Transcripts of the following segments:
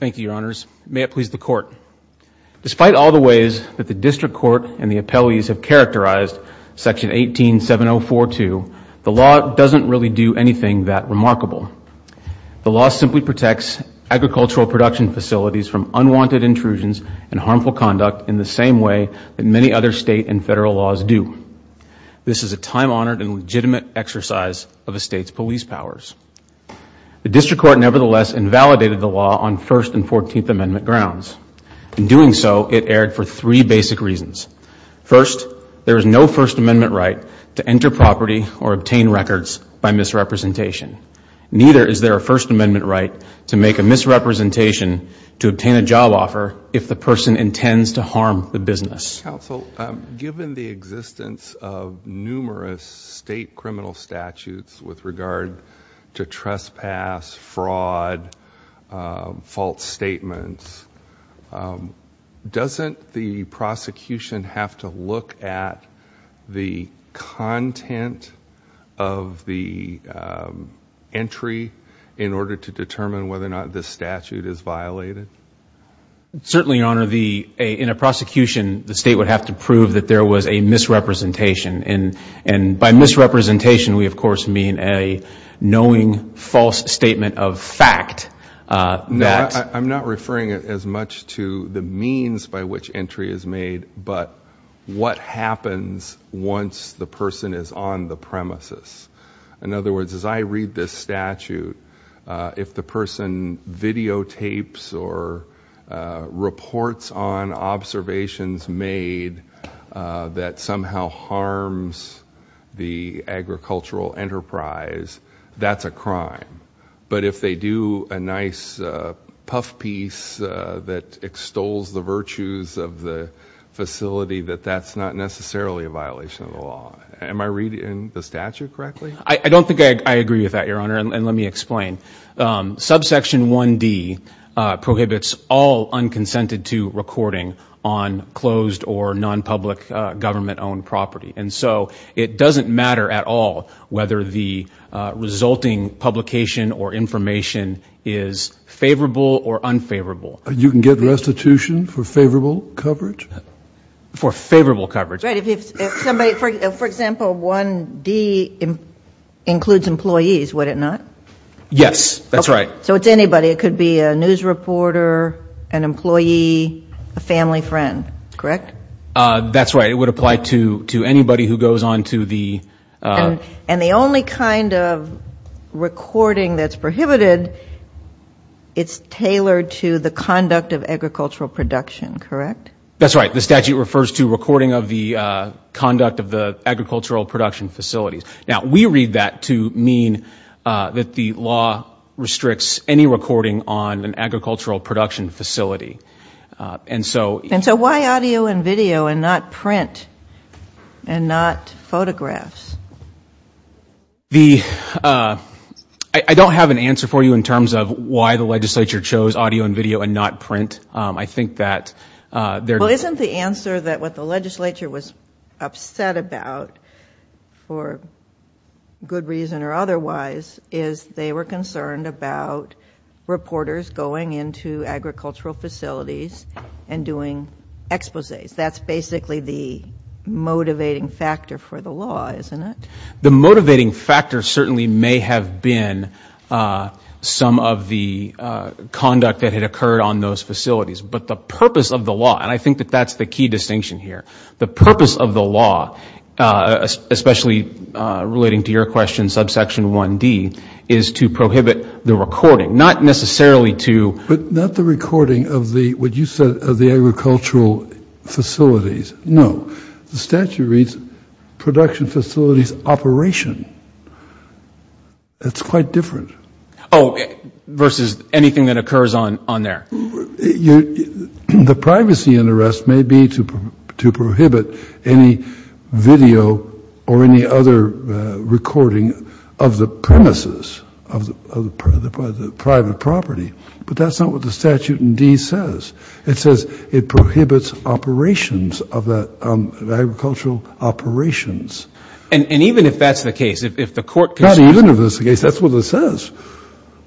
Thank you, Your Honors. May it please the Court. Despite all the ways that the District Court and the appellees have characterized Section 187042, the law doesn't really do anything that remarkable. The law simply protects agricultural production facilities from unwanted intrusions and harmful conduct in the same way that many other state and federal laws do. This is a time-honored and legitimate exercise of a state's police powers. The District Court nevertheless invalidated the law on First and Fourteenth Amendment grounds. In doing so, it erred for three basic reasons. First, there is no First Amendment right to enter property or obtain records by misrepresentation. Neither is there a First Amendment right to make a misrepresentation to obtain a job offer if the person intends to harm the business. Given the existence of numerous state criminal statutes with regard to trespass, fraud, false statements, doesn't the prosecution have to look at the content of the entry in order to determine whether or not this statute is violated? Certainly, Your Honor. In a prosecution, the state would have to prove that there was a misrepresentation. By misrepresentation, we, of course, mean a knowing false statement of fact. I'm not referring as much to the means by which entry is made, but what happens once the person is on the premises? In other words, as I read this statute, if the person videotapes or reports on observations made that somehow harms the agricultural enterprise, that's a crime. But if they do a nice puff piece that extols the virtues of the facility, that that's not necessarily a violation of the law. Am I reading the statute correctly? I don't think I agree with that, Your Honor. And let me explain. Subsection 1D prohibits all unconsented-to recording on closed or nonpublic government-owned property. And so it doesn't matter at all whether the resulting publication or information is favorable or unfavorable. You can get restitution for favorable coverage? For favorable coverage. Right. If somebody, for example, 1D includes employees, would it not? Yes, that's right. So it's anybody. It could be a news reporter, an employee, a family friend, correct? That's right. It would apply to anybody who goes on to the... And the only kind of recording that's prohibited, it's tailored to the conduct of agricultural production, correct? That's right. The statute refers to recording of the conduct of the agricultural production facilities. Now, we read that to mean that the law restricts any recording on an agricultural production facility. And so... And so why audio and video and not print and not photographs? I don't have an answer for you in terms of why the legislature chose audio and video and not print. I think that there... Well, isn't the answer that what the legislature was upset about, for good reason or otherwise, is they were concerned about reporters going into agricultural facilities and doing exposés. That's basically the motivating factor for the law, isn't it? The motivating factor certainly may have been some of the conduct that had occurred on those facilities. But the purpose of the law, and I think that that's the key distinction here, the purpose of the law, especially relating to your question, subsection 1D, is to prohibit the recording, not necessarily to... But not the recording of the, what you said, of the agricultural facilities. No. The statute reads, production facilities operation. That's quite different. Oh, versus anything that occurs on there. The privacy and arrest may be to prohibit any video or any other recording of the premises of the private property. But that's not what the statute in D says. It says it prohibits operations of the agricultural operations. And even if that's the case, if the court... Not even if that's the case. That's what it says.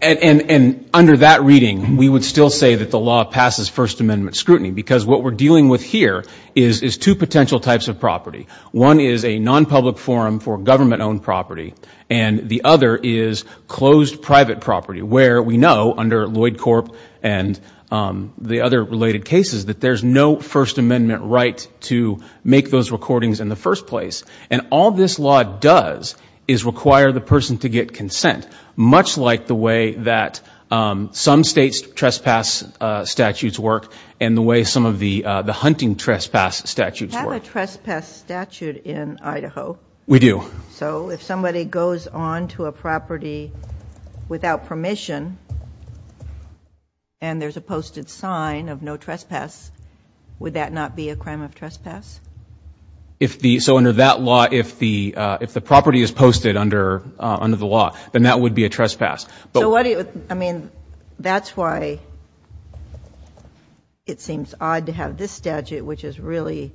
And under that reading, we would still say that the law passes First Amendment scrutiny, because what we're dealing with here is two potential types of property. One is a non-public forum for government-owned property, and the other is closed private property, where we know, under Lloyd Corp and the other related cases, that there's no First Amendment right to make those recordings in the first place. And all this law does is require the person to get consent, much like the way that some states' trespass statutes work, and the way some of the hunting trespass statutes work. We have a trespass statute in Idaho. We do. So if somebody goes onto a property without permission, and there's a posted sign of no trespass, would that not be a crime of trespass? So under that law, if the property is posted under the law, then that would be a trespass. I mean, that's why it seems odd to have this statute, which is really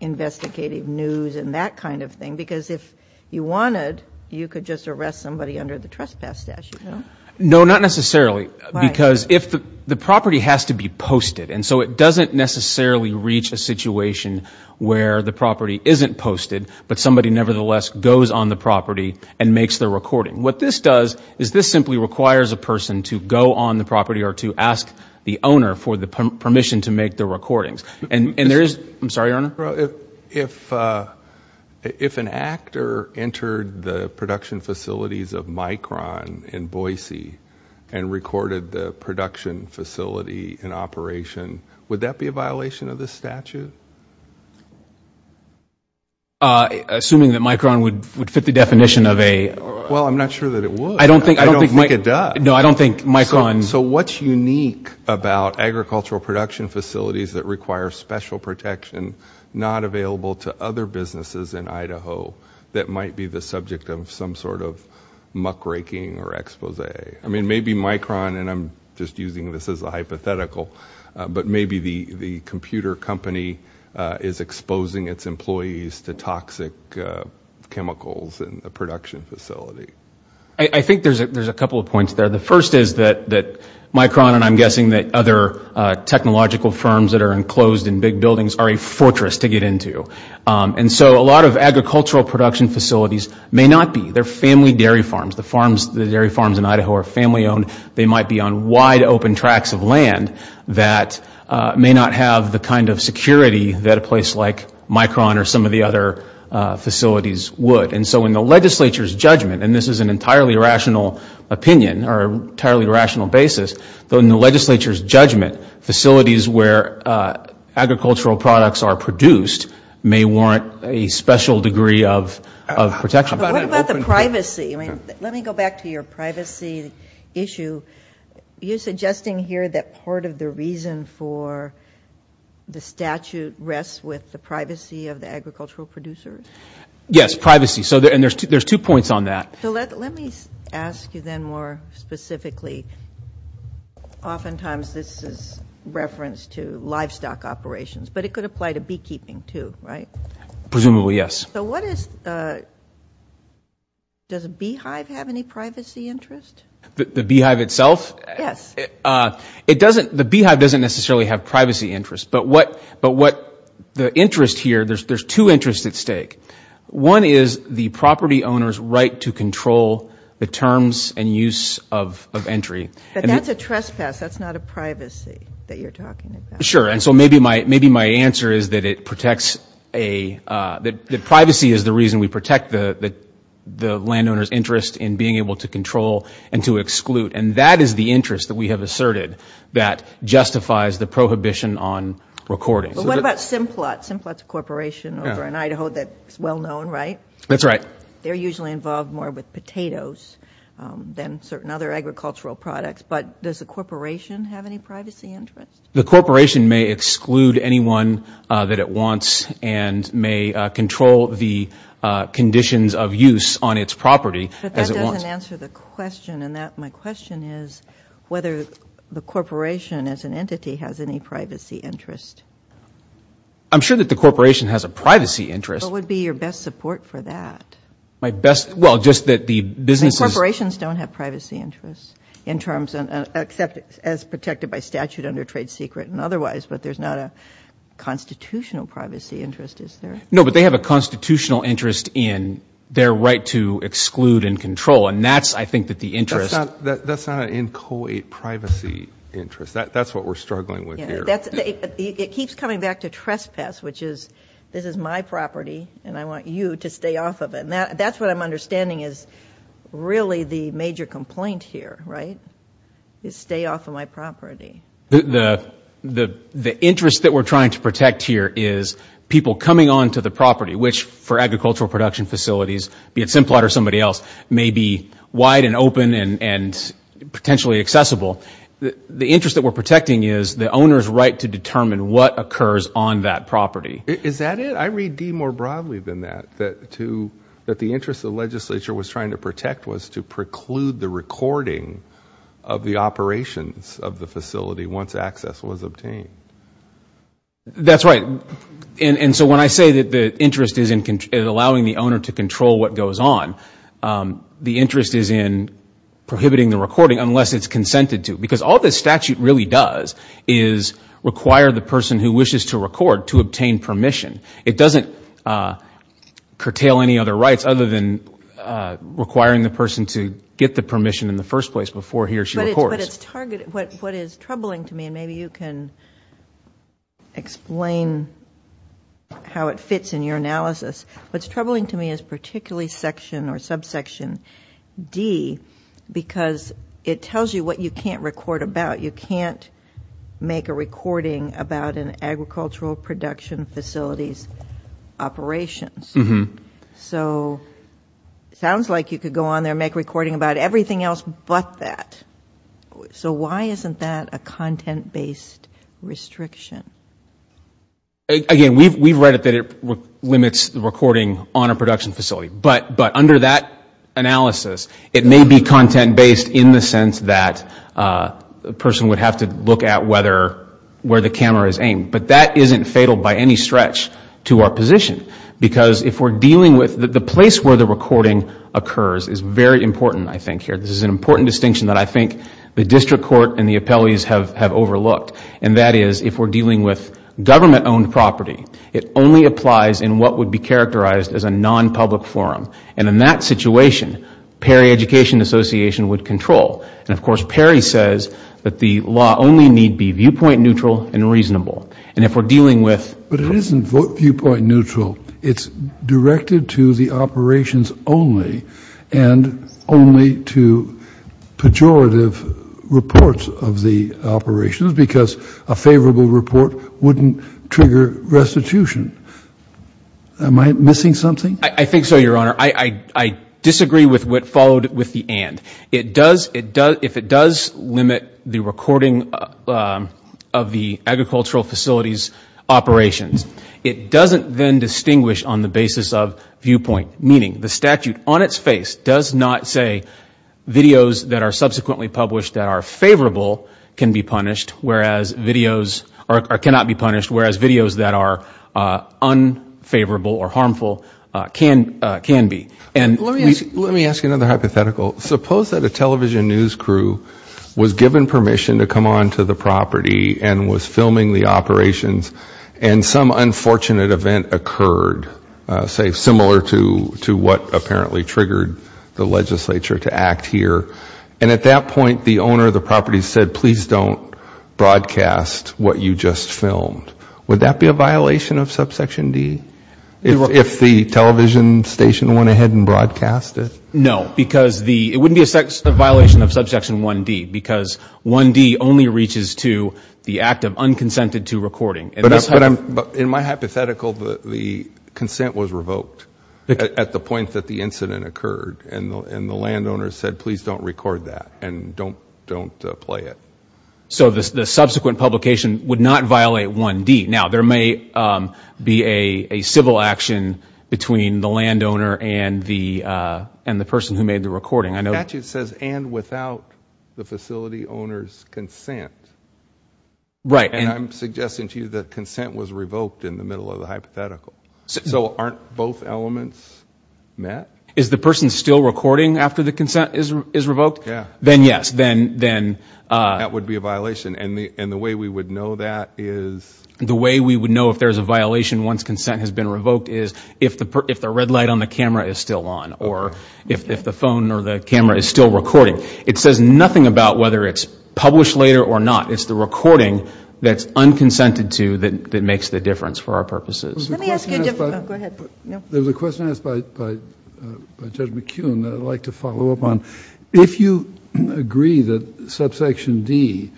investigative news and that kind of thing, because if you wanted, you could just arrest somebody under the trespass statute, no? No, not necessarily, because the property has to be posted. And so it doesn't necessarily reach a situation where the property isn't posted, but somebody nevertheless goes on the property and makes the recording. What this does is this simply requires a person to go on the property or to ask the owner for the permission to make the recordings. And there is... I'm sorry, Your Honor? If an actor entered the production facilities of Micron in Boise and recorded the production facility in operation, would that be a violation of this statute? Assuming that Micron would fit the definition of a... Well, I'm not sure that it would. I don't think... I don't think it does. No, I don't think Micron... So what's unique about agricultural production facilities that require special protection, not available to other businesses in Idaho that might be the subject of some sort of muckraking or expose? I mean, maybe Micron, and I'm just using this as a hypothetical, but maybe the computer company is exposing its employees to toxic chemicals in the production facility. I think there's a couple of points there. The first is that Micron, and I'm guessing that other technological firms that are enclosed in big buildings, are a fortress to get into. And so a lot of agricultural production facilities may not be. They're family dairy farms. The farms, the dairy farms in Idaho are family owned. They might be on wide open tracks of land that may not have the kind of security that a place like Micron or some of the other facilities would. And so in the legislature's judgment, and this is an entirely rational opinion or entirely rational basis, though in the legislature's judgment, facilities where agricultural products are produced may warrant a special degree of protection. What about the privacy? I mean, let me go back to your privacy issue. You're suggesting here that part of the reason for the statute rests with the privacy of the Yes, privacy. And there's two points on that. So let me ask you then more specifically, oftentimes this is reference to livestock operations, but it could apply to beekeeping too, right? Presumably, yes. So what is, does a beehive have any privacy interest? The beehive itself? Yes. The beehive doesn't necessarily have privacy interest, but what the interest here, there's two interests at stake. One is the property owner's right to control the terms and use of entry. But that's a trespass. That's not a privacy that you're talking about. Sure. And so maybe my answer is that it protects a, that privacy is the reason we protect the landowner's interest in being able to control and to exclude. And that is the interest that we have asserted that justifies the prohibition on recording. What about Simplot? Simplot's a corporation over in Idaho that's well known, right? That's right. They're usually involved more with potatoes than certain other agricultural products, but does the corporation have any privacy interest? The corporation may exclude anyone that it wants and may control the conditions of use on its property as it wants. But that doesn't answer the question. And that, my question is whether the corporation as an I'm sure that the corporation has a privacy interest. What would be your best support for that? My best, well, just that the businesses... Corporations don't have privacy interests in terms of, except as protected by statute under trade secret and otherwise, but there's not a constitutional privacy interest, is there? No, but they have a constitutional interest in their right to exclude and control. And that's, I think that the interest... That's not an inchoate privacy interest. That's what we're struggling with here. It keeps coming back to trespass, which is, this is my property and I want you to stay off of it. And that's what I'm understanding is really the major complaint here, right? Is stay off of my property. The interest that we're trying to protect here is people coming onto the property, which for agricultural production facilities, be it Simplot or somebody else, may be wide and open and potentially accessible. The interest that we're protecting is the owner's right to determine what occurs on that property. Is that it? I read D more broadly than that, that the interest the legislature was trying to protect was to preclude the recording of the operations of the facility once access was obtained. That's right. And so when I say that the interest is in allowing the owner to control what goes on, the interest is in prohibiting the recording unless it's consented to. Because all this statute really does is require the person who wishes to record to obtain permission. It doesn't curtail any other rights other than requiring the person to get the permission in the first place before he or she records. But what is troubling to me, and maybe you can explain how it fits in your analysis, what's troubling to me is particularly section or subsection D because it tells you what you can't record about. You can't make a recording about an agricultural production facility's operations. So it sounds like you could go on there and make a recording about everything else but that. So why isn't that a content-based restriction? Again, we've read that it limits the recording on a production facility. But under that analysis, it may be content-based in the sense that a person would have to look at where the camera is aimed. But that isn't fatal by any stretch to our position. Because if we're dealing with, the place where the recording occurs is very important, I think, here. This is an important distinction that I think the district court and the appellees have overlooked. And that is, if we're dealing with government-owned property, it only applies in what would be characterized as a non-public forum. And in that situation, Perry Education Association would control. And of course, Perry says that the law only need be viewpoint neutral and reasonable. And if we're dealing with... But it isn't viewpoint neutral. It's directed to the operations only and only to pejorative reports of the operations. Because a favorable report wouldn't trigger restitution. Am I missing something? I think so, Your Honor. I disagree with what followed with the and. If it does limit the recording of the agricultural facilities' operations, it doesn't then distinguish on the basis of viewpoint. Meaning, the statute on its face does not say videos that are subsequently published that are favorable can be punished, whereas videos or cannot be punished, whereas videos that are unfavorable or harmful can be. Let me ask you another hypothetical. Suppose that a television news crew was given permission to come onto the property and was filming the operations and some unfortunate event occurred, say, similar to what apparently triggered the legislature to act here. And at that point, the owner of the property said, please don't broadcast what you just filmed. Would that be a violation of subsection D? If the television station went ahead and broadcast it? No. Because it wouldn't be a violation of subsection 1D. Because 1D only reaches to the act of unconsented to recording. But in my hypothetical, the consent was revoked at the point that the incident occurred. And the landowner said, please don't record that. And don't play it. So the subsequent publication would not violate 1D. Now, there may be a civil action between the landowner and the person who made the recording. The statute says, and without the facility owner's consent. Right. And I'm suggesting to you that consent was revoked in the middle of the hypothetical. So aren't both elements met? Is the person still recording after the consent is revoked? Yeah. Then, yes. Then, then. That would be a violation. And the way we would know that is. The way we would know if there's a violation once consent has been revoked is if the red light on the camera is still on. Or if the phone or the camera is still recording. It says nothing about whether it's published later or not. It's the recording that's unconsented to that makes the difference for our purposes. Let me ask you a different. Go ahead. There's a question asked by Judge McKeown that I'd like to follow up on. If you agree that subsection D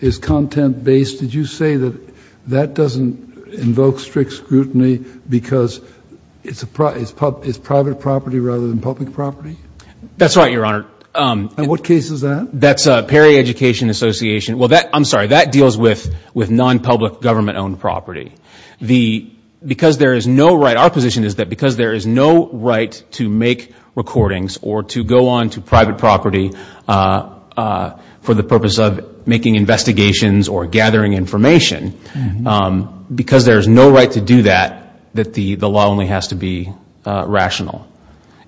is content based, did you say that that doesn't invoke strict scrutiny because it's private property rather than public property? That's right, Your Honor. And what case is that? That's Perry Education Association. Well, that, I'm sorry, that deals with non-public government owned property. The, because there is no right, our position is that because there is no right to make recordings or to go on to private property for the purpose of making investigations or gathering information, because there is no right to do that, that the law only has to be rational.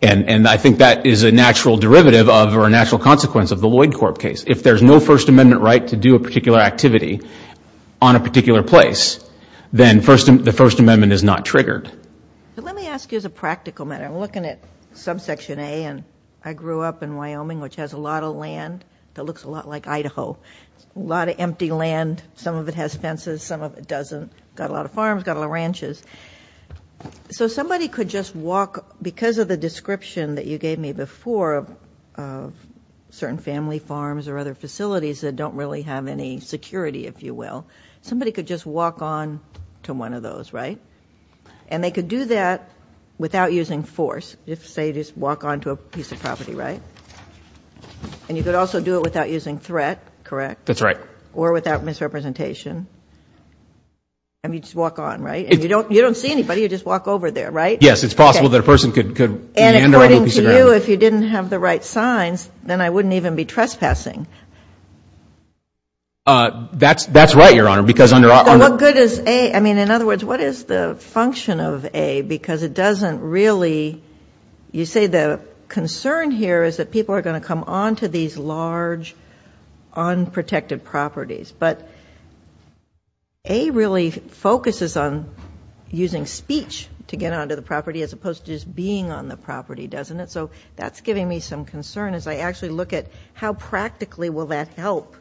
And I think that is a natural derivative of or a natural consequence of the Lloyd Corp case. If there's no First Amendment right to do a particular activity on a particular place, then the First Amendment is not triggered. But let me ask you as a practical matter. I'm looking at subsection A and I grew up in Wyoming, which has a lot of land that looks a lot like Idaho, a lot of empty land. Some of it has fences, some of it doesn't. Got a lot of farms, got a lot of ranches. So somebody could just walk, because of the description that you gave me before of certain family farms or other facilities that don't really have any security, if you will, somebody could just walk on to one of those, right? And they could do that without using force. If, say, just walk on to a piece of property, right? And you could also do it without using threat, correct? That's right. Or without misrepresentation. I mean, just walk on, right? And you don't see anybody, you just walk over there, right? Yes, it's possible that a person could, could have the right signs, then I wouldn't even be trespassing. That's, that's right, Your Honor, because under our... What good is A? I mean, in other words, what is the function of A? Because it doesn't really, you say the concern here is that people are going to come on to these large, unprotected properties. But A really focuses on using speech to get on to the property as opposed to just me some concern as I actually look at how practically will that help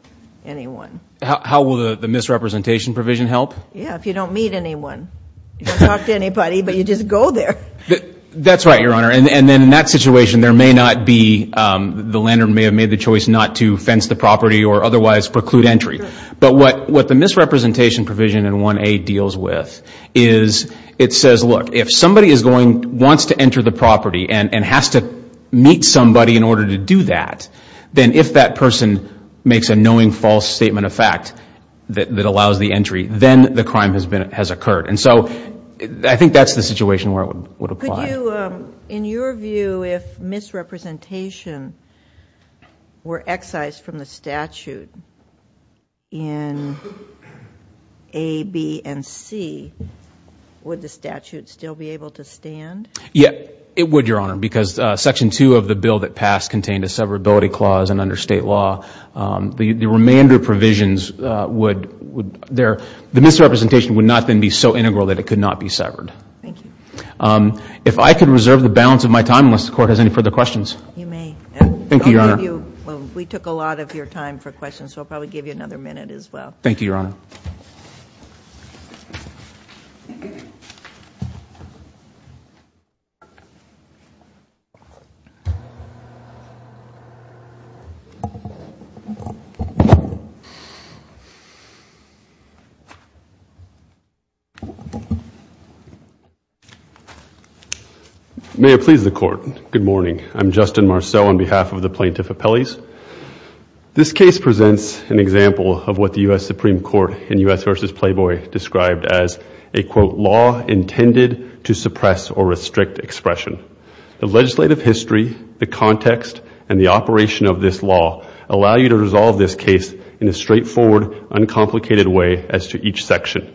anyone? How will the misrepresentation provision help? Yeah, if you don't meet anyone. You don't talk to anybody, but you just go there. That's right, Your Honor. And then in that situation, there may not be, the landowner may have made the choice not to fence the property or otherwise preclude entry. But what, what the misrepresentation provision in 1A deals with is it says, look, if somebody is going, wants to enter the property and has to meet somebody in order to do that, then if that person makes a knowing false statement of fact that allows the entry, then the crime has been, has occurred. And so I think that's the situation where it would apply. Could you, in your view, if misrepresentation were excised from the statute in A, B, and C, would the statute still be able to stand? Yeah, it would, Your Honor, because Section 2 of the bill that passed contained a severability clause and under state law, the remainder provisions would, would there, the misrepresentation would not then be so integral that it could not be severed. Thank you. If I could reserve the balance of my time unless the Court has any further questions. You may. Thank you, Your Honor. We took a lot of your time for this. Thank you, Your Honor. May it please the Court. Good morning. I'm Justin Marceau on behalf of the Plaintiff Appellees. This case presents an example of what the U.S. Supreme Court in U.S. v. Playboy described as a, quote, law intended to suppress or restrict expression. The legislative history, the context, and the operation of this law allow you to resolve this case in a straightforward, uncomplicated way as to each section.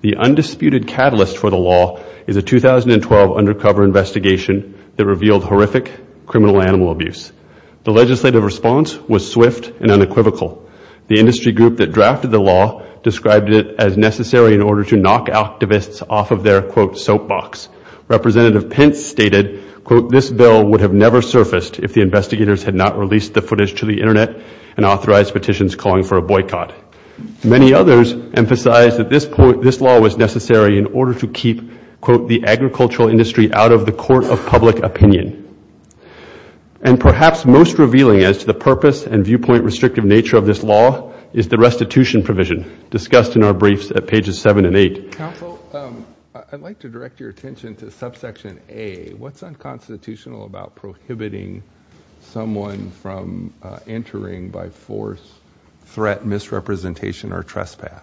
The undisputed catalyst for the law is a 2012 undercover investigation that revealed horrific criminal animal abuse. The legislative response was swift and unequivocal. The industry group that drafted the law described it as necessary in order to knock activists off of their, quote, soapbox. Representative Pence stated, quote, this bill would have never surfaced if the investigators had not released the footage to the Internet and authorized petitions calling for a boycott. Many others emphasized that this point, this law was necessary in order to keep, quote, the agricultural industry out of the court of public opinion. And perhaps most revealing as to the purpose and viewpoint restrictive nature of this law is the restitution provision discussed in our briefs at pages 7 and 8. Counsel, I'd like to direct your attention to subsection A. What's unconstitutional about prohibiting someone from entering by force, threat, misrepresentation, or trespass?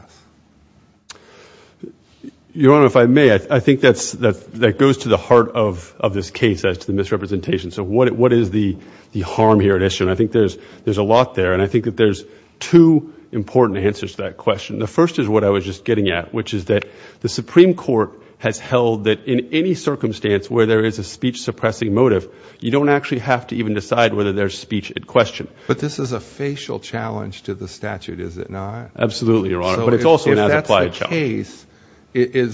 Your Honor, if I may, I think that goes to the heart of this case as to the misrepresentation. So what is the harm here at issue? And I think there's a lot there. And I think that there's two important answers to that question. The first is what I was just getting at, which is that the Supreme Court has held that in any circumstance where there is a speech suppressing motive, you don't actually have to even decide whether there's speech at question. But this is a facial challenge to the statute, is it not? Absolutely, Your Honor. But it's also an as-applied challenge. So if that's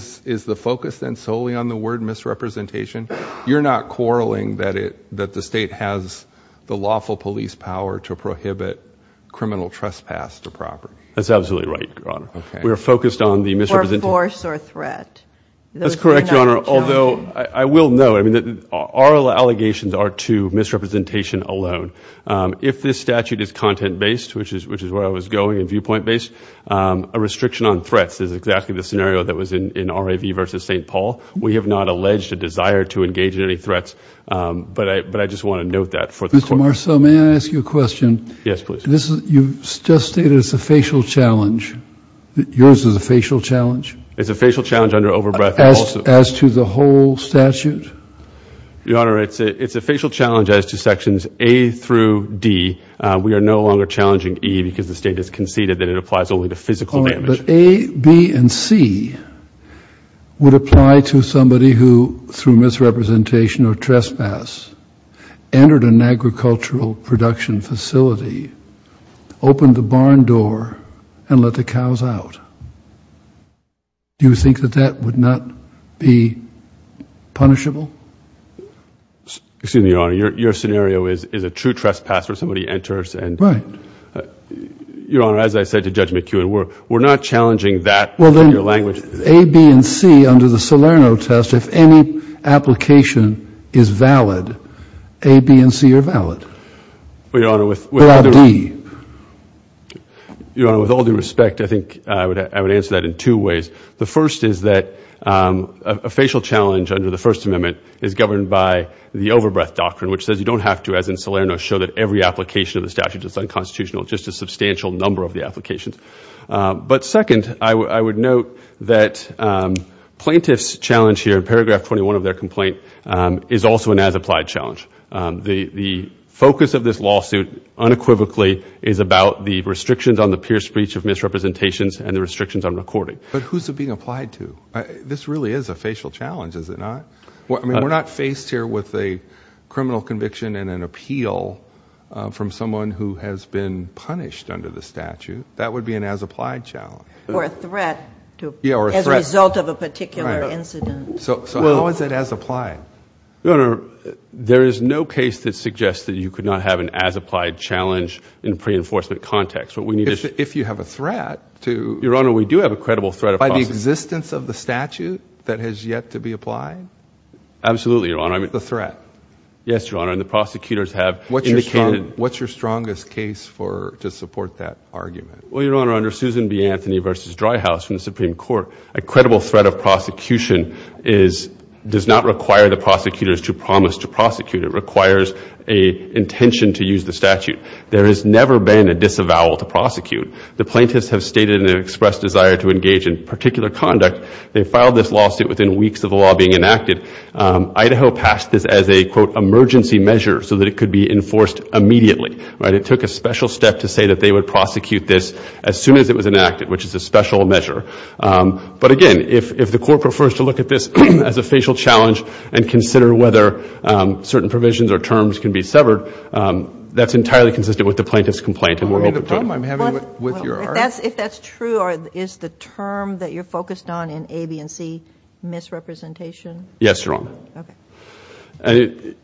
the case, is the focus then solely on the word misrepresentation? You're not quarreling that the state has the lawful police power to prohibit criminal trespass to property? That's absolutely right, Your Honor. We're focused on the misrepresentation. For force or threat. That's correct, Your Honor. Although I will note, I mean, our allegations are to misrepresentation alone. If this statute is content-based, which is where I was going, and viewpoint-based, a restriction on threats is exactly the scenario that was in R.A.V. v. St. Paul. We have not alleged a desire to engage in any threats. But I just want to note that. Mr. Marceau, may I ask you a question? Yes, please. You just stated it's a facial challenge. Yours is a facial challenge? It's a facial challenge under over-breath also. As to the whole statute? Your Honor, it's a facial challenge as to sections A through D. We are no longer challenging E because the state has conceded that it applies only to physical damage. But A, B, and C would apply to somebody who, through misrepresentation or trespass, entered an agricultural production facility, opened the barn door, and let the cows out. Do you think that that would not be punishable? Excuse me, Your Honor. Your scenario is a true trespass where somebody enters and... Right. Your Honor, as I said to Judge McEwen, we're not challenging that in your language. A, B, and C under the Salerno test, if any application is valid, A, B, and C are valid. Well, Your Honor, with... Without D. Your Honor, with all due respect, I think I would answer that in two ways. The first is that a facial challenge under the First Amendment is governed by the over-breath doctrine, which says you don't have to, as in Salerno, show that every application of the statute is unconstitutional, just a substantial number of the applications. But second, I would note that plaintiff's challenge here, paragraph 21 of their complaint, is also an as-applied challenge. The focus of this lawsuit, unequivocally, is about the restrictions on the peer speech of misrepresentations and the restrictions on recording. But who's it being applied to? This really is a facial challenge, is it not? I mean, we're not faced here with a criminal conviction and an appeal from someone who has been punished under the statute. That would be an as-applied challenge. Or a threat as a result of a particular incident. So how is it as-applied? Your Honor, there is no case that suggests that you could not have an as-applied challenge in a pre-enforcement context. What we need is... If you have a threat to... Your Honor, we do have a credible threat of... By the existence of the statute that has yet to be applied? Absolutely, Your Honor. The threat? Yes, Your Honor. And the prosecutors have indicated... What's your strongest case to support that argument? Well, Your Honor, under Susan B. Anthony v. Dryhouse from the Supreme Court, a credible threat of prosecution is... does not require the prosecutors to promise to prosecute. It requires an intention to use the statute. There has never been a disavowal to prosecute. The plaintiffs have stated an expressed desire to engage in particular conduct. They filed this lawsuit within weeks of the law being enacted. Idaho passed this as a, quote, emergency measure so that it could be enforced immediately. Right? It took a special step to say that they would prosecute this as soon as it was enacted, which is a special measure. But again, if the court prefers to look at this as a facial challenge and consider whether certain provisions or terms can be severed, that's entirely consistent with the plaintiff's complaint. And we're open to it. Well, if that's true, is the term that you're focused on in A, B, and C misrepresentation? Yes, Your Honor. Okay.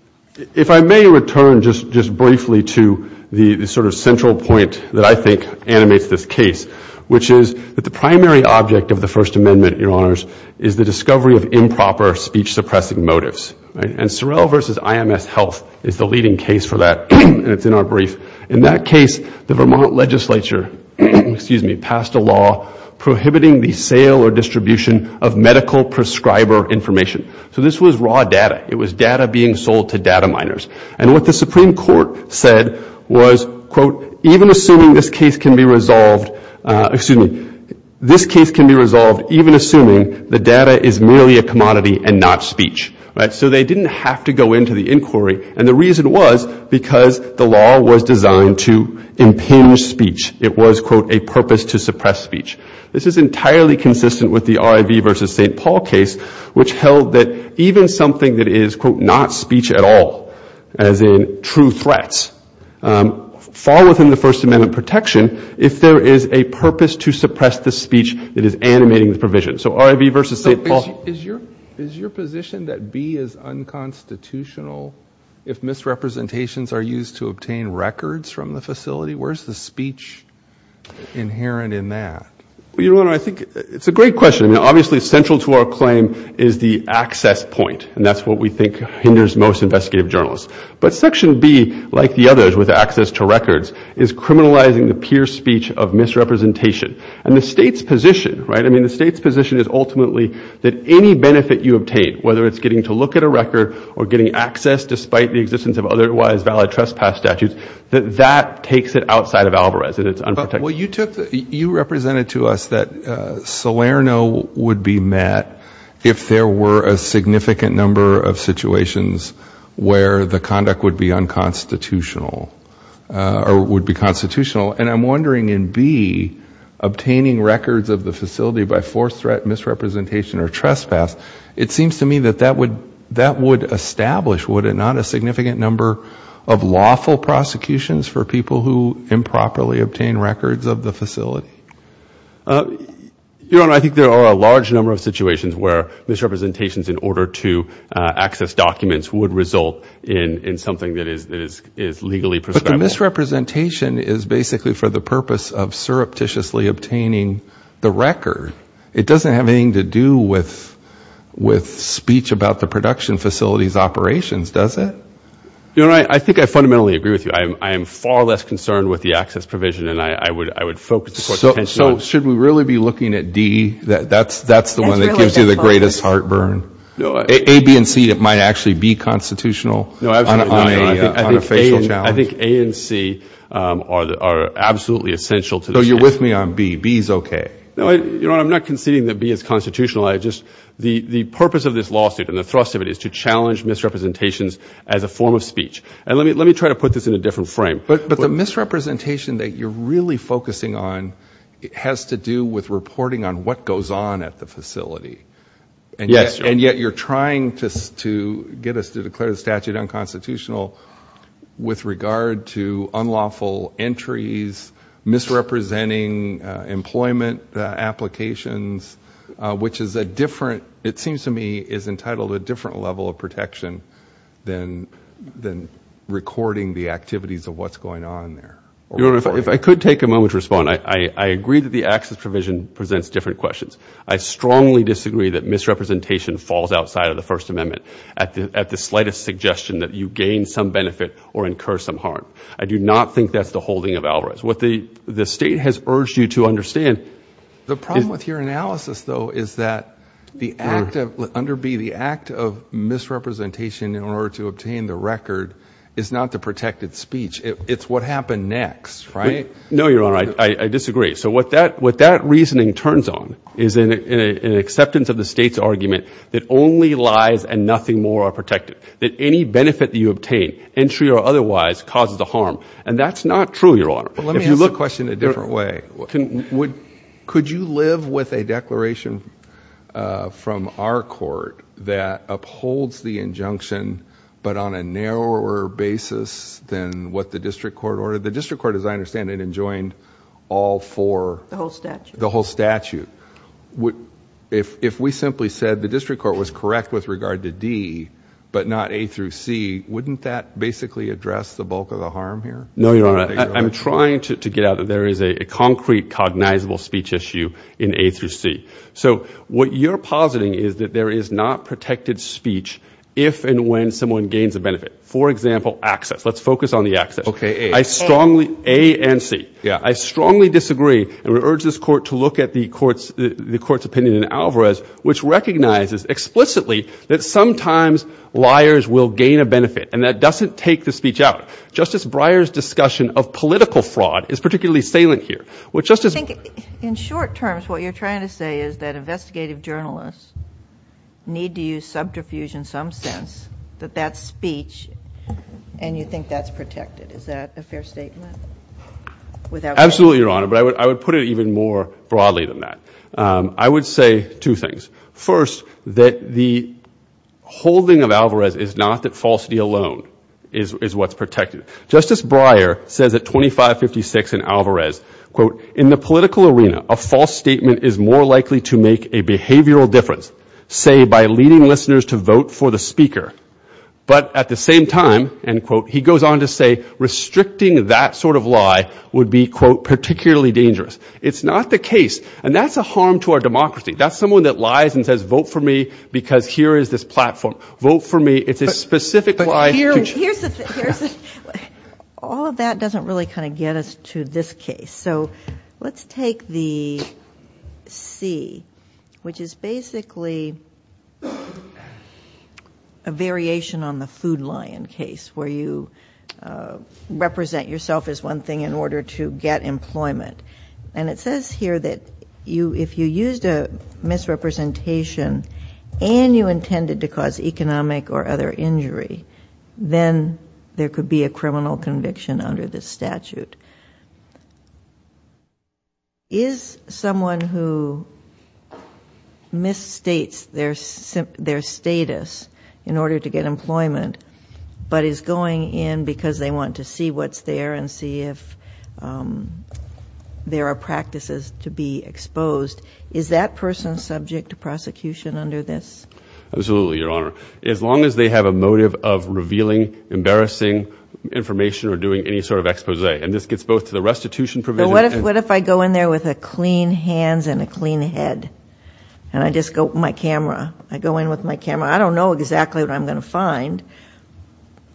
If I may return just briefly to the sort of central point that I think animates this case, which is that the primary object of the First Amendment, Your Honors, is the discovery of improper speech suppressing motives. And Sorrell v. IMS Health is the leading case for that. And it's in our brief. In that case, the Vermont legislature, excuse me, passed a law prohibiting the sale or distribution of medical prescriber information. So this was raw data. It was data being sold to data miners. And what the Supreme Court said was, quote, even assuming this case can be resolved, excuse me, this case can be resolved even assuming the data is merely a commodity and not speech. So they didn't have to go into the inquiry. And the reason was because the law was designed to impinge speech. It was, quote, a purpose to suppress speech. This is entirely consistent with the RIV v. St. Paul case, which held that even something that is, quote, not speech at all, as in true threats, um, fall within the First Amendment protection if there is a purpose to suppress the speech that is animating the provision. So RIV v. St. Paul... But is your position that B is unconstitutional if misrepresentations are used to obtain records from the facility? Where's the speech inherent in that? Well, Your Honor, I think it's a great question. I mean, obviously, central to our claim is the access point. And that's what we think hinders most investigative journalists. But Section B, like the others with access to records, is criminalizing the pure speech of misrepresentation. And the state's position, right? I mean, the state's position is ultimately that any benefit you obtain, whether it's getting to look at a record or getting access despite the existence of otherwise valid trespass statutes, that that takes it outside of Alvarez and it's unprotected. Well, you took... You represented to us that Salerno would be met if there were a significant number of situations where the conduct would be unconstitutional or would be constitutional. And I'm wondering in B, obtaining records of the facility by forced threat, misrepresentation or trespass, it seems to me that that would establish, would it not, a significant number of lawful prosecutions for people who improperly obtain records of the facility? Your Honor, I think there are a large number of situations where misrepresentations in order to access documents would result in something that is legally prescribable. But the misrepresentation is basically for the purpose of surreptitiously obtaining the record. It doesn't have anything to do with speech about the production facility's operations, does it? Your Honor, I think I fundamentally agree with you. I am far less concerned with the access provision than I would focus the Court's attention on. So should we really be looking at D? That's the one that gives you the greatest heartburn. A, B, and C, it might actually be constitutional. I think A and C are absolutely essential. You're with me on B. B is okay. I'm not conceding that B is constitutional. The purpose of this lawsuit and the thrust of it is to challenge misrepresentations as a form of speech. And let me try to put this in a different frame. But the misrepresentation that you're really focusing on has to do with reporting on what goes on at the facility. And yet you're trying to get us to declare the statute unconstitutional with regard to unlawful entries, misrepresenting employment applications, which is a different, it seems to me, is entitled to a different level of protection than recording the activities of what's going on there. Your Honor, if I could take a moment to respond. I agree that the access provision presents different questions. I strongly disagree that misrepresentation falls outside of the First Amendment at the slightest suggestion that you gain some benefit or incur some harm. I do not think that's the holding of Alvarez. What the state has urged you to understand... The problem with your analysis, though, is that the act of, under B, the act of misrepresentation in order to obtain the record is not the protected speech. It's what happened next, right? No, Your Honor, I disagree. So what that reasoning turns on is an acceptance of the state's argument that only lies and nothing more are protected, that any benefit that you obtain, entry or otherwise, causes a harm. And that's not true, Your Honor. But let me ask the question a different way. Could you live with a declaration from our court that upholds the injunction, but on a narrower basis than what the district court ordered? The district court, as I understand it, joined all four... The whole statute. The whole statute. If we simply said the district court was correct with regard to D, but not A through C, wouldn't that basically address the bulk of the harm here? No, Your Honor, I'm trying to get out that there is a concrete cognizable speech issue in A through C. So what you're positing is that there is not protected speech if and when someone gains a benefit. For example, access. Let's focus on the access. Okay, A. A and C. Yeah, I strongly disagree. And we urge this court to look at the court's opinion in Alvarez, which recognizes explicitly that sometimes liars will gain a benefit. And that doesn't take the speech out. Justice Breyer's discussion of political fraud is particularly salient here. In short terms, what you're trying to say is that investigative journalists need to use subterfuge in some sense, that that speech, and you think that's protected. Is that a fair statement? Absolutely, Your Honor, but I would put it even more broadly than that. I would say two things. First, that the holding of Alvarez is not that falsity alone is what's protected. Justice Breyer says at 2556 in Alvarez, quote, in the political arena, a false statement is more likely to make a behavioral difference, say, by leading listeners to vote for the speaker. But at the same time, end quote, he goes on to say restricting that sort of lie would be, quote, particularly dangerous. It's not the case. And that's a harm to our democracy. That's someone that lies and says, vote for me because here is this platform. Vote for me. It's a specific lie. All of that doesn't really kind of get us to this case. So let's take the C, which is basically a variation on the food lion case, where you represent yourself as one thing in order to get employment. And it says here that if you used a misrepresentation and you intended to cause economic or other injury, then there could be a criminal conviction under this statute. Is someone who misstates their status in order to get employment but is going in because they want to see what's there and see if there are practices to be exposed, is that person subject to prosecution under this? Absolutely, Your Honor. As long as they have a motive of revealing embarrassing information or doing any sort of expose, and this could be a criminal conviction, this gets both to the restitution provision. What if I go in there with a clean hands and a clean head? And I just go with my camera. I go in with my camera. I don't know exactly what I'm going to find,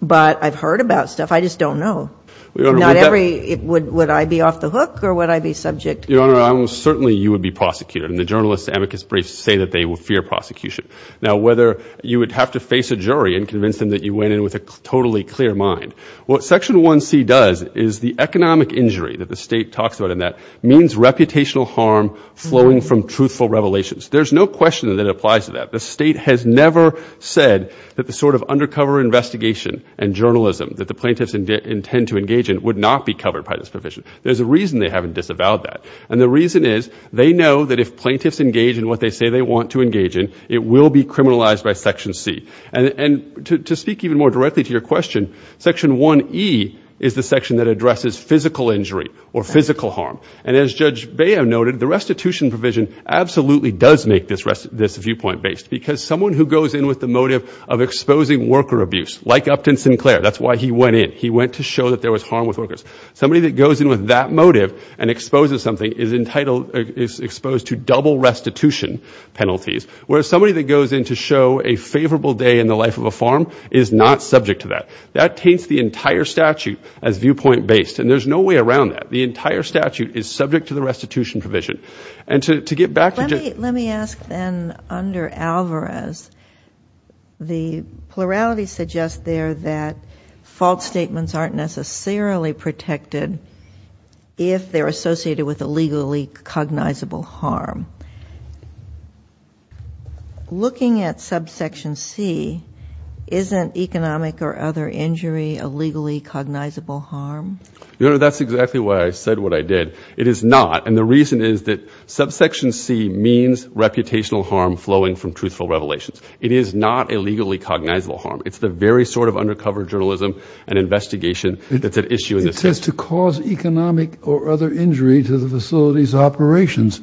but I've heard about stuff. I just don't know. Would I be off the hook or would I be subject? Your Honor, certainly you would be prosecuted. And the journalists, amicus briefs say that they fear prosecution. Now, whether you would have to face a jury and convince them that you went in with a totally clear mind. What Section 1C does is the economic injury that the state talks about in that means reputational harm flowing from truthful revelations. There's no question that it applies to that. The state has never said that the sort of undercover investigation and journalism that the plaintiffs intend to engage in would not be covered by this provision. There's a reason they haven't disavowed that. And the reason is they know that if plaintiffs engage in what they say they want to engage in, it will be criminalized by Section C. And to speak even more directly to your question, Section 1E is the section that addresses physical injury or physical harm. And as Judge Baio noted, the restitution provision absolutely does make this viewpoint based because someone who goes in with the motive of exposing worker abuse, like Upton Sinclair, that's why he went in. He went to show that there was harm with workers. Somebody that goes in with that motive and exposes something is exposed to double restitution penalties, whereas somebody that goes in to show a favorable day in the life of a farm is not subject to that. That taints the entire statute as viewpoint based. And there's no way around that. The entire statute is subject to the restitution provision. And to get back to Judge- Let me ask then under Alvarez, the plurality suggests there that false statements aren't necessarily protected if they're associated with illegally cognizable harm. Looking at subsection C, isn't economic or other injury a legally cognizable harm? You know, that's exactly why I said what I did. It is not. And the reason is that subsection C means reputational harm flowing from truthful revelations. It is not a legally cognizable harm. It's the very sort of undercover journalism and investigation that's at issue in this case. It says to cause economic or other injury to the facility's operations,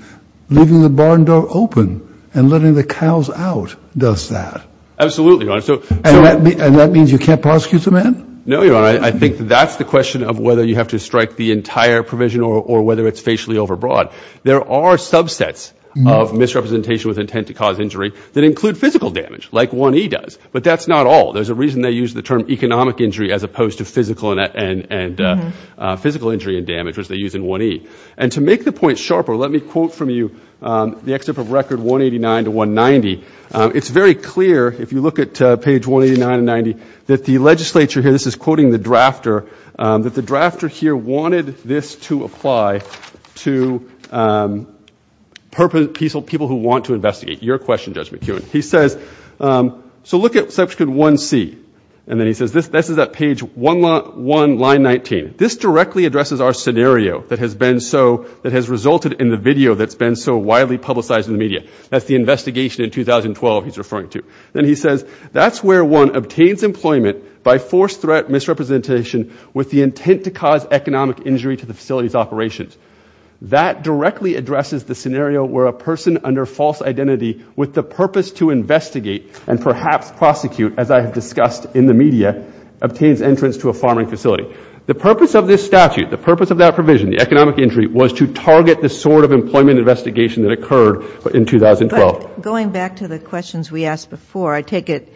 leaving the barn door open and letting the cows out does that. Absolutely, Your Honor. So- And that means you can't prosecute the man? No, Your Honor. I think that's the question of whether you have to strike the entire provision or whether it's facially overbroad. There are subsets of misrepresentation with intent to cause injury that include physical damage like 1E does. But that's not all. There's a reason they use the term economic injury as opposed to physical injury and damage, which they use in 1E. And to make the point sharper, let me quote from you the excerpt of record 189 to 190. It's very clear, if you look at page 189 to 190, that the legislature here, this is quoting the drafter, that the drafter here wanted this to apply to peaceful people who want to investigate. Your question, Judge McKeown. He says, so look at subsection 1C. And then he says, this is at page 1, line 19. This directly addresses our scenario that has been so, that has resulted in the video that's been so widely publicized in the media. That's the investigation in 2012 he's referring to. Then he says, that's where one obtains employment by forced threat misrepresentation with the intent to cause economic injury to the facility's operations. That directly addresses the scenario where a person under false identity with the purpose to investigate and perhaps prosecute, as I have discussed in the media, obtains entrance to a farming facility. The purpose of this statute, the purpose of that provision, the economic injury, was to target the sort of employment investigation that occurred in 2012. But going back to the questions we asked before, I take it,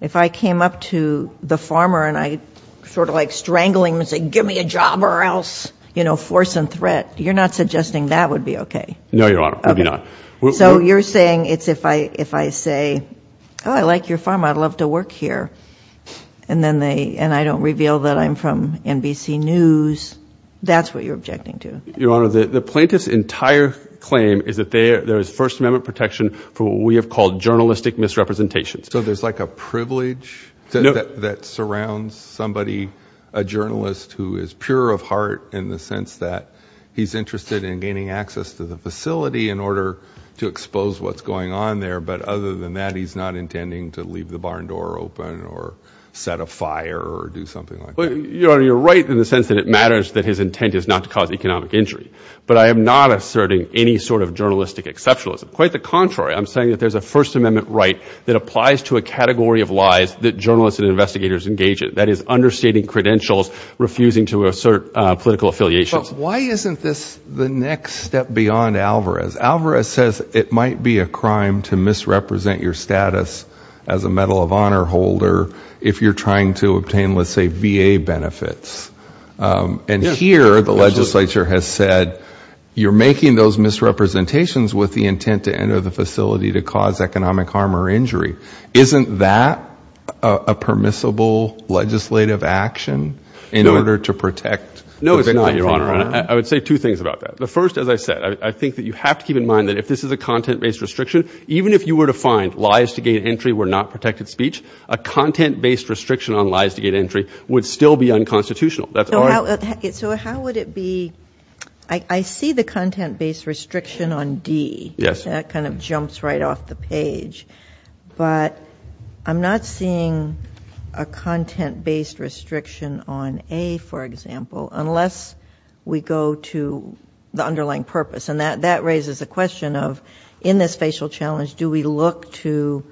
if I came up to the farmer and I sort of like strangling and say, give me a job or else, you know, force and threat, you're not suggesting that would be okay? No, Your Honor, we'd be not. So you're saying it's if I say, oh, I like your farm, I'd love to work here. And then they, and I don't reveal that I'm from NBC News. That's what you're objecting to. Your Honor, the plaintiff's entire claim is that there is First Amendment protection for what we have called journalistic misrepresentations. So there's like a privilege that surrounds somebody, a journalist who is pure of heart in the sense that he's interested in gaining access to the facility in order to expose what's going on there. But other than that, he's not intending to leave the barn door open or set a fire or do something like that. Your Honor, you're right in the sense that it matters that his intent is not to cause economic injury. But I am not asserting any sort of journalistic exceptionalism. Quite the contrary. I'm saying that there's a First Amendment right that applies to a category of lies that journalists and investigators engage in. That is understating credentials, refusing to assert political affiliations. But why isn't this the next step beyond Alvarez? Alvarez says it might be a crime to misrepresent your status as a Medal of Honor holder if you're trying to obtain, let's say, VA benefits. And here, the legislature has said, you're making those misrepresentations with the intent to enter the facility to cause economic harm or injury. Isn't that a permissible legislative action in order to protect? No, it's not, Your Honor. I would say two things about that. The first, as I said, I think that you have to keep in mind that if this is a content-based restriction, even if you were to find lies to gain entry were not protected speech, a content-based restriction on lies to gain entry would still be unconstitutional. So how would it be... I see the content-based restriction on D. That kind of jumps right off the page. But I'm not seeing a content-based restriction on A, for example, unless we go to the underlying purpose. And that raises a question of, in this facial challenge, do we look to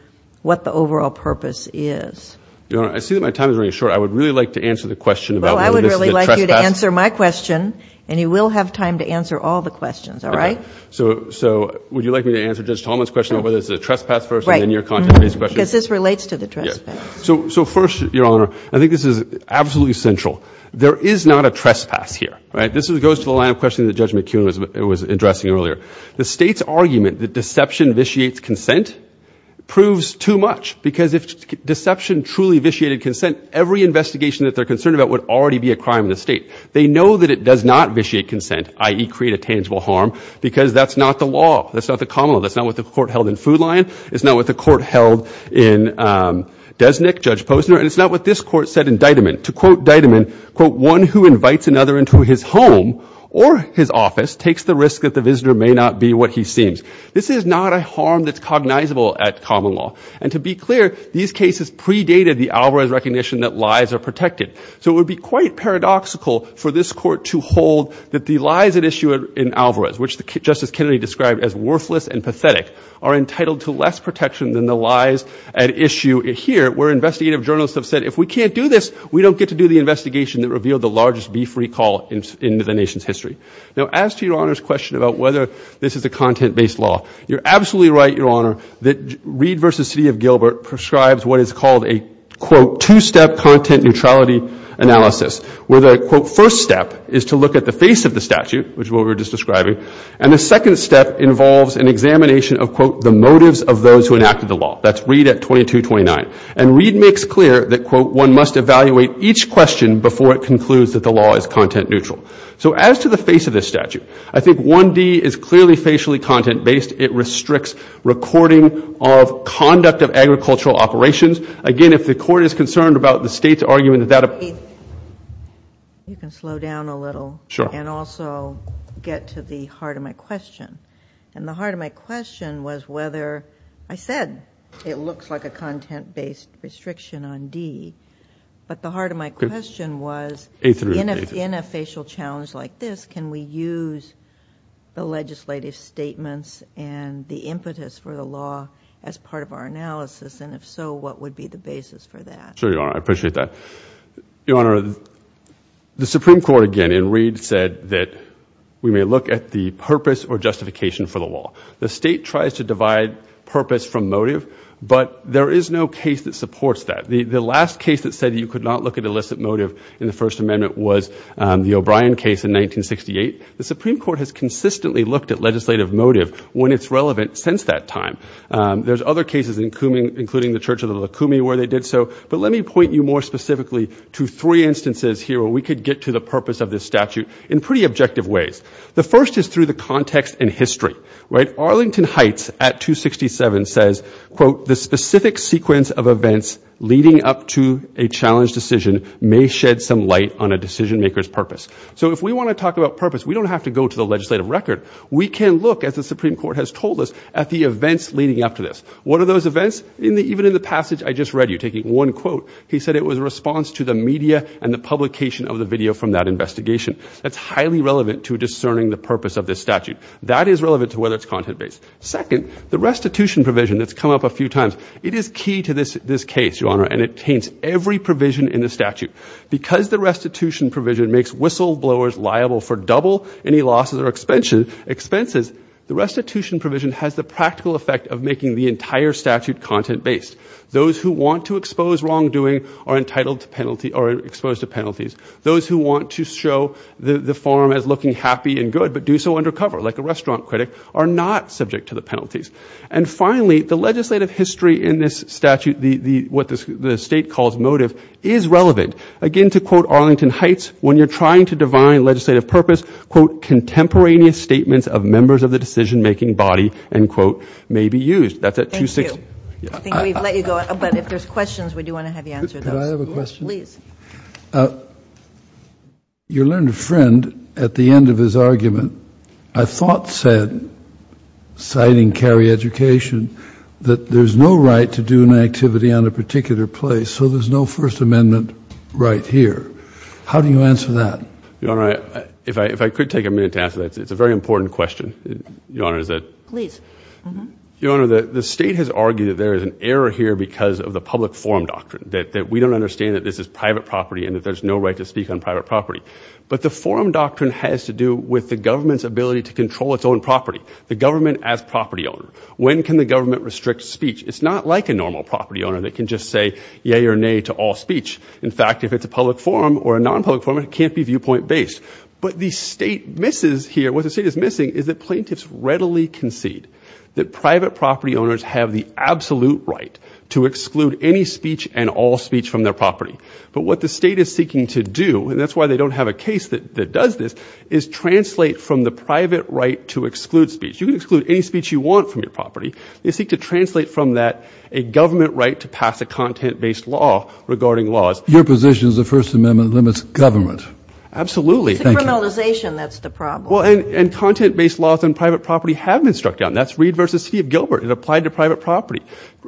what the overall purpose is? Your Honor, I see that my time is running short. I would really like to answer the question I would really like you to answer my question and you will have time to answer all the questions. All right? So would you like me to answer Judge Tallman's question whether it's a trespass first and then your content-based question? Because this relates to the trespass. So first, Your Honor, I think this is absolutely central. There is not a trespass here, right? This goes to the line of question that Judge McKeown was addressing earlier. The state's argument that deception vitiates consent proves too much because if deception truly vitiated consent, every investigation that they're concerned about would already be a crime in the state. They know that it does not vitiate consent, i.e., create a tangible harm, because that's not the law. That's not the common law. That's not what the court held in Food Lion. It's not what the court held in Desnick, Judge Posner. And it's not what this court said in Deiteman. To quote Deiteman, quote, one who invites another into his home or his office takes the risk that the visitor may not be what he seems. This is not a harm that's cognizable at common law. And to be clear, these cases predated the Alvarez recognition that lies are protected. So it would be quite paradoxical for this court to hold that the lies at issue in Alvarez, which Justice Kennedy described as worthless and pathetic, are entitled to less protection than the lies at issue here, where investigative journalists have said, if we can't do this, we don't get to do the investigation that revealed the largest beef recall in the nation's history. Now, as to Your Honor's question about whether this is a content-based law, you're absolutely right, Your Honor, that Reed v. City of Gilbert prescribes what is called a, quote, two-step content neutrality analysis, where the, quote, first step is to look at the face of the statute, which is what we were just describing, and the second step involves an examination of, quote, the motives of those who enacted the law. That's Reed at 2229. And Reed makes clear that, quote, one must evaluate each question before it concludes that the law is content neutral. So as to the face of this statute, I think 1D is clearly facially content-based. It restricts recording of conduct of agricultural operations. Again, if the court is concerned about the state's argument that that... A, you can slow down a little. Sure. And also get to the heart of my question. And the heart of my question was whether, I said it looks like a content-based restriction on D, but the heart of my question was, in a facial challenge like this, can we use the legislative statements and the impetus for the law as part of our analysis? And if so, what would be the basis for that? Sure, Your Honor. I appreciate that. Your Honor, the Supreme Court, again, in Reed, said that we may look at the purpose or justification for the law. The state tries to divide purpose from motive, but there is no case that supports that. The last case that said you could not look at illicit motive in the First Amendment was the O'Brien case in 1968. The Supreme Court has consistently looked at legislative motive when it's relevant since that time. There's other cases including the Church of the Lukumi where they did so. But let me point you more specifically to three instances here where we could get to the purpose of this statute in pretty objective ways. The first is through the context and history, right? Arlington Heights at 267 says, quote, the specific sequence of events leading up to a challenge decision may shed some light on a decision maker's purpose. So if we want to talk about purpose, we don't have to go to the legislative record. We can look, as the Supreme Court has told us, at the events leading up to this. What are those events? Even in the passage I just read you taking one quote, he said it was a response to the media and the publication of the video from that investigation. That's highly relevant to discerning the purpose of this statute. That is relevant to whether it's content-based. Second, the restitution provision that's come up a few times. It is key to this case, Your Honor, and it taints every provision in the statute. Because the restitution provision makes whistleblowers liable for double any losses or expenses, the restitution provision has the practical effect of making the entire statute content-based. Those who want to expose wrongdoing are entitled to penalty or exposed to penalties. Those who want to show the farm as looking happy and good but do so undercover, like a restaurant critic, are not subject to the penalties. And finally, the legislative history in this statute, what the state calls motive, is relevant. Again, to quote Arlington Heights, when you're trying to divine legislative purpose, contemporaneous statements of members of the decision-making body, end quote, may be used. That's at 260. Thank you. I think we've let you go. But if there's questions, we do want to have you answer those. Could I have a question? Please. Your learned friend, at the end of his argument, I thought said, citing Cary Education, that there's no right to do an activity on a particular place, so there's no First Amendment right here. How do you answer that? Your Honor, if I could take a minute to answer that, it's a very important question. Your Honor, is that? Please. Your Honor, the state has argued that there is an error here because of the public forum doctrine, that we don't understand that this is private property and that there's no right to speak on private property. But the forum doctrine has to do with the government's ability to control its own property, the government as property owner. When can the government restrict speech? It's not like a normal property owner that can just say yay or nay to all speech. In fact, if it's a public forum or a non-public forum, it can't be viewpoint based. But the state misses here, what the state is missing, is that plaintiffs readily concede that private property owners have the absolute right to exclude any speech and all speech from their property. But what the state is seeking to do, and that's why they don't have a case that does this, is translate from the private right to exclude speech. You can exclude any speech you want from your property. They seek to translate from that a government right to pass a content-based law regarding laws. Your position is the First Amendment limits government. Absolutely. It's the criminalization that's the problem. Well, and content-based laws on private property have been struck down. That's Reed v. City of Gilbert. It applied to private property.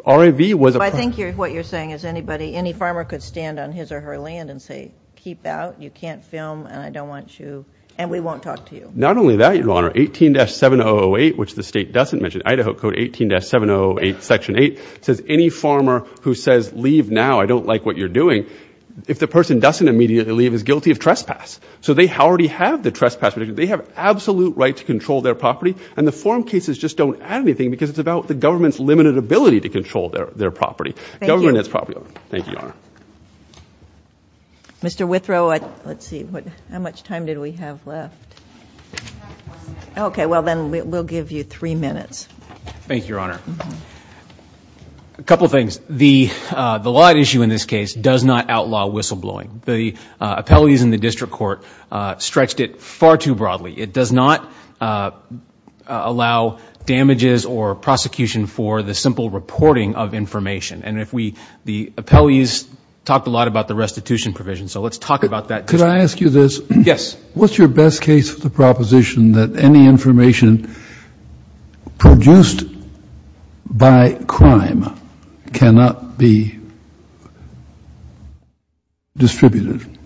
RAV was a- I think what you're saying is anybody, any farmer could stand on his or her land and say, keep out, you can't film, and I don't want you, and we won't talk to you. Not only that, Your Honor, 18-7008, which the state doesn't mention, Idaho Code 18-7008, Section 8, says any farmer who says leave now, I don't like what you're doing, if the person doesn't immediately leave, is guilty of trespass. So they already have the trespass. They have absolute right to control their property. And the forum cases just don't add anything because it's about the government's limited ability to control their property. Government has property. Thank you, Your Honor. Mr. Withrow, let's see. How much time did we have left? OK, well, then we'll give you three minutes. Thank you, Your Honor. A couple of things. The lot issue in this case does not outlaw whistleblowing. The appellees in the district court stretched it far too broadly. It does not allow damages or prosecution for the simple reporting of information. And the appellees talked a lot about the restitution provision. So let's talk about that. Could I ask you this? Yes. What's your best case for the proposition that any information produced by crime cannot be distributed?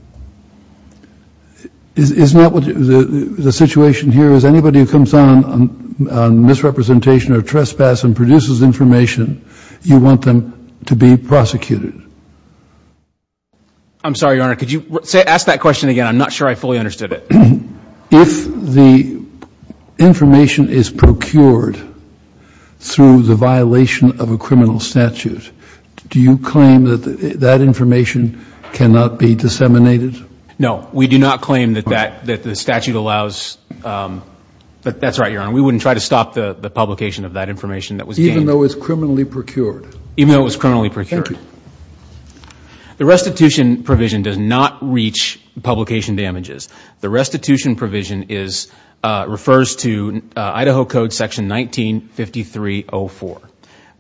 The situation here is anybody who comes on misrepresentation or trespass and produces information, you want them to be prosecuted. I'm sorry, Your Honor. Could you ask that question again? I'm not sure I fully understood it. If the information is procured through the violation of a criminal statute, do you claim that that information cannot be disseminated? No, we do not claim that the statute allows. But that's right, Your Honor. We wouldn't try to stop the publication of that information that was gained. Even though it was criminally procured? Even though it was criminally procured. The restitution provision does not reach publication damages. The restitution provision refers to Idaho Code Section 1953-04.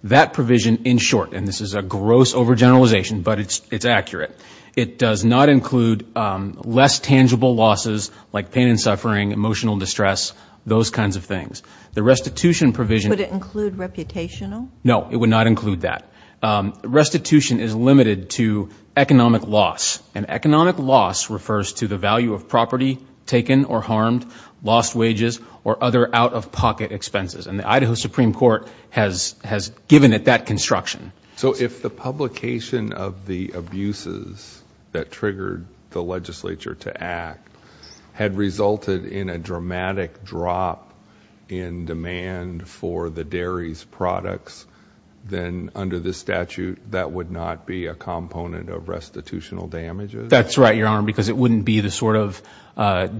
That provision, in short, and this is a gross overgeneralization, but it's accurate. It does not include less tangible losses like pain and suffering, emotional distress, those kinds of things. The restitution provision- Could it include reputational? No, it would not include that. Restitution is limited to economic loss. And economic loss refers to the value of property taken or harmed, lost wages, or other out-of-pocket expenses. And the Idaho Supreme Court has given it that construction. So if the publication of the abuses that triggered the legislature to act had resulted in a dramatic drop in demand for the dairy's products, then under this statute, that would not be a component of restitutional damages? That's right, Your Honor, because it wouldn't be the sort of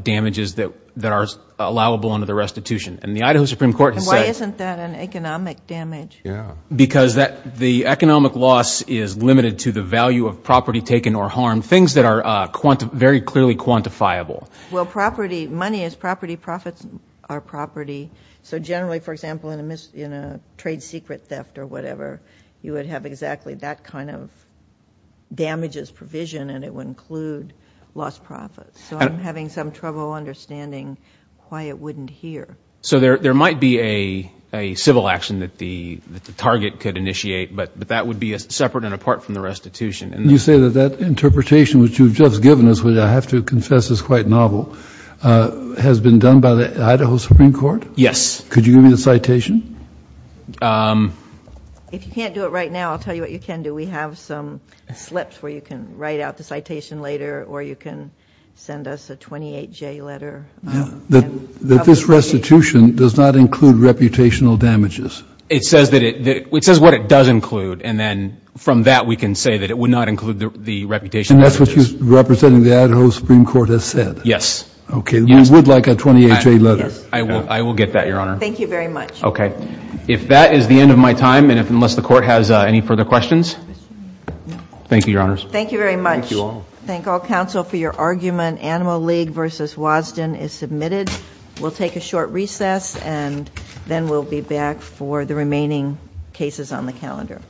damages that are allowable under the restitution. And the Idaho Supreme Court has said- Why isn't that an economic damage? Yeah. Because the economic loss is limited to the value of property taken or harmed, things that are very clearly quantifiable. Well, property, money is property, profits are property. So generally, for example, in a trade secret theft or whatever, you would have exactly that kind of damages provision, and it would include lost profits. So I'm having some trouble understanding why it wouldn't here. So there might be a civil action that the target could initiate, but that would be separate and apart from the restitution. You say that that interpretation which you've just given us, which I have to confess is quite novel, has been done by the Idaho Supreme Court? Yes. Could you give me the citation? If you can't do it right now, I'll tell you what you can do. We have some slips where you can write out the citation later, or you can send us a 28-J letter. That this restitution does not include reputational damages? It says what it does include, and then from that, we can say that it would not include the reputational damages. And that's what you're representing the Idaho Supreme Court has said? Yes. OK. You would like a 28-J letter? I will get that, Your Honor. Thank you very much. OK. If that is the end of my time, and unless the court has any further questions? Thank you, Your Honors. Thank you very much. Thank you all. Thank all counsel for your argument. Animal League v. Wadsden is submitted. We'll take a short recess, and then we'll be back for the remaining cases on the calendar.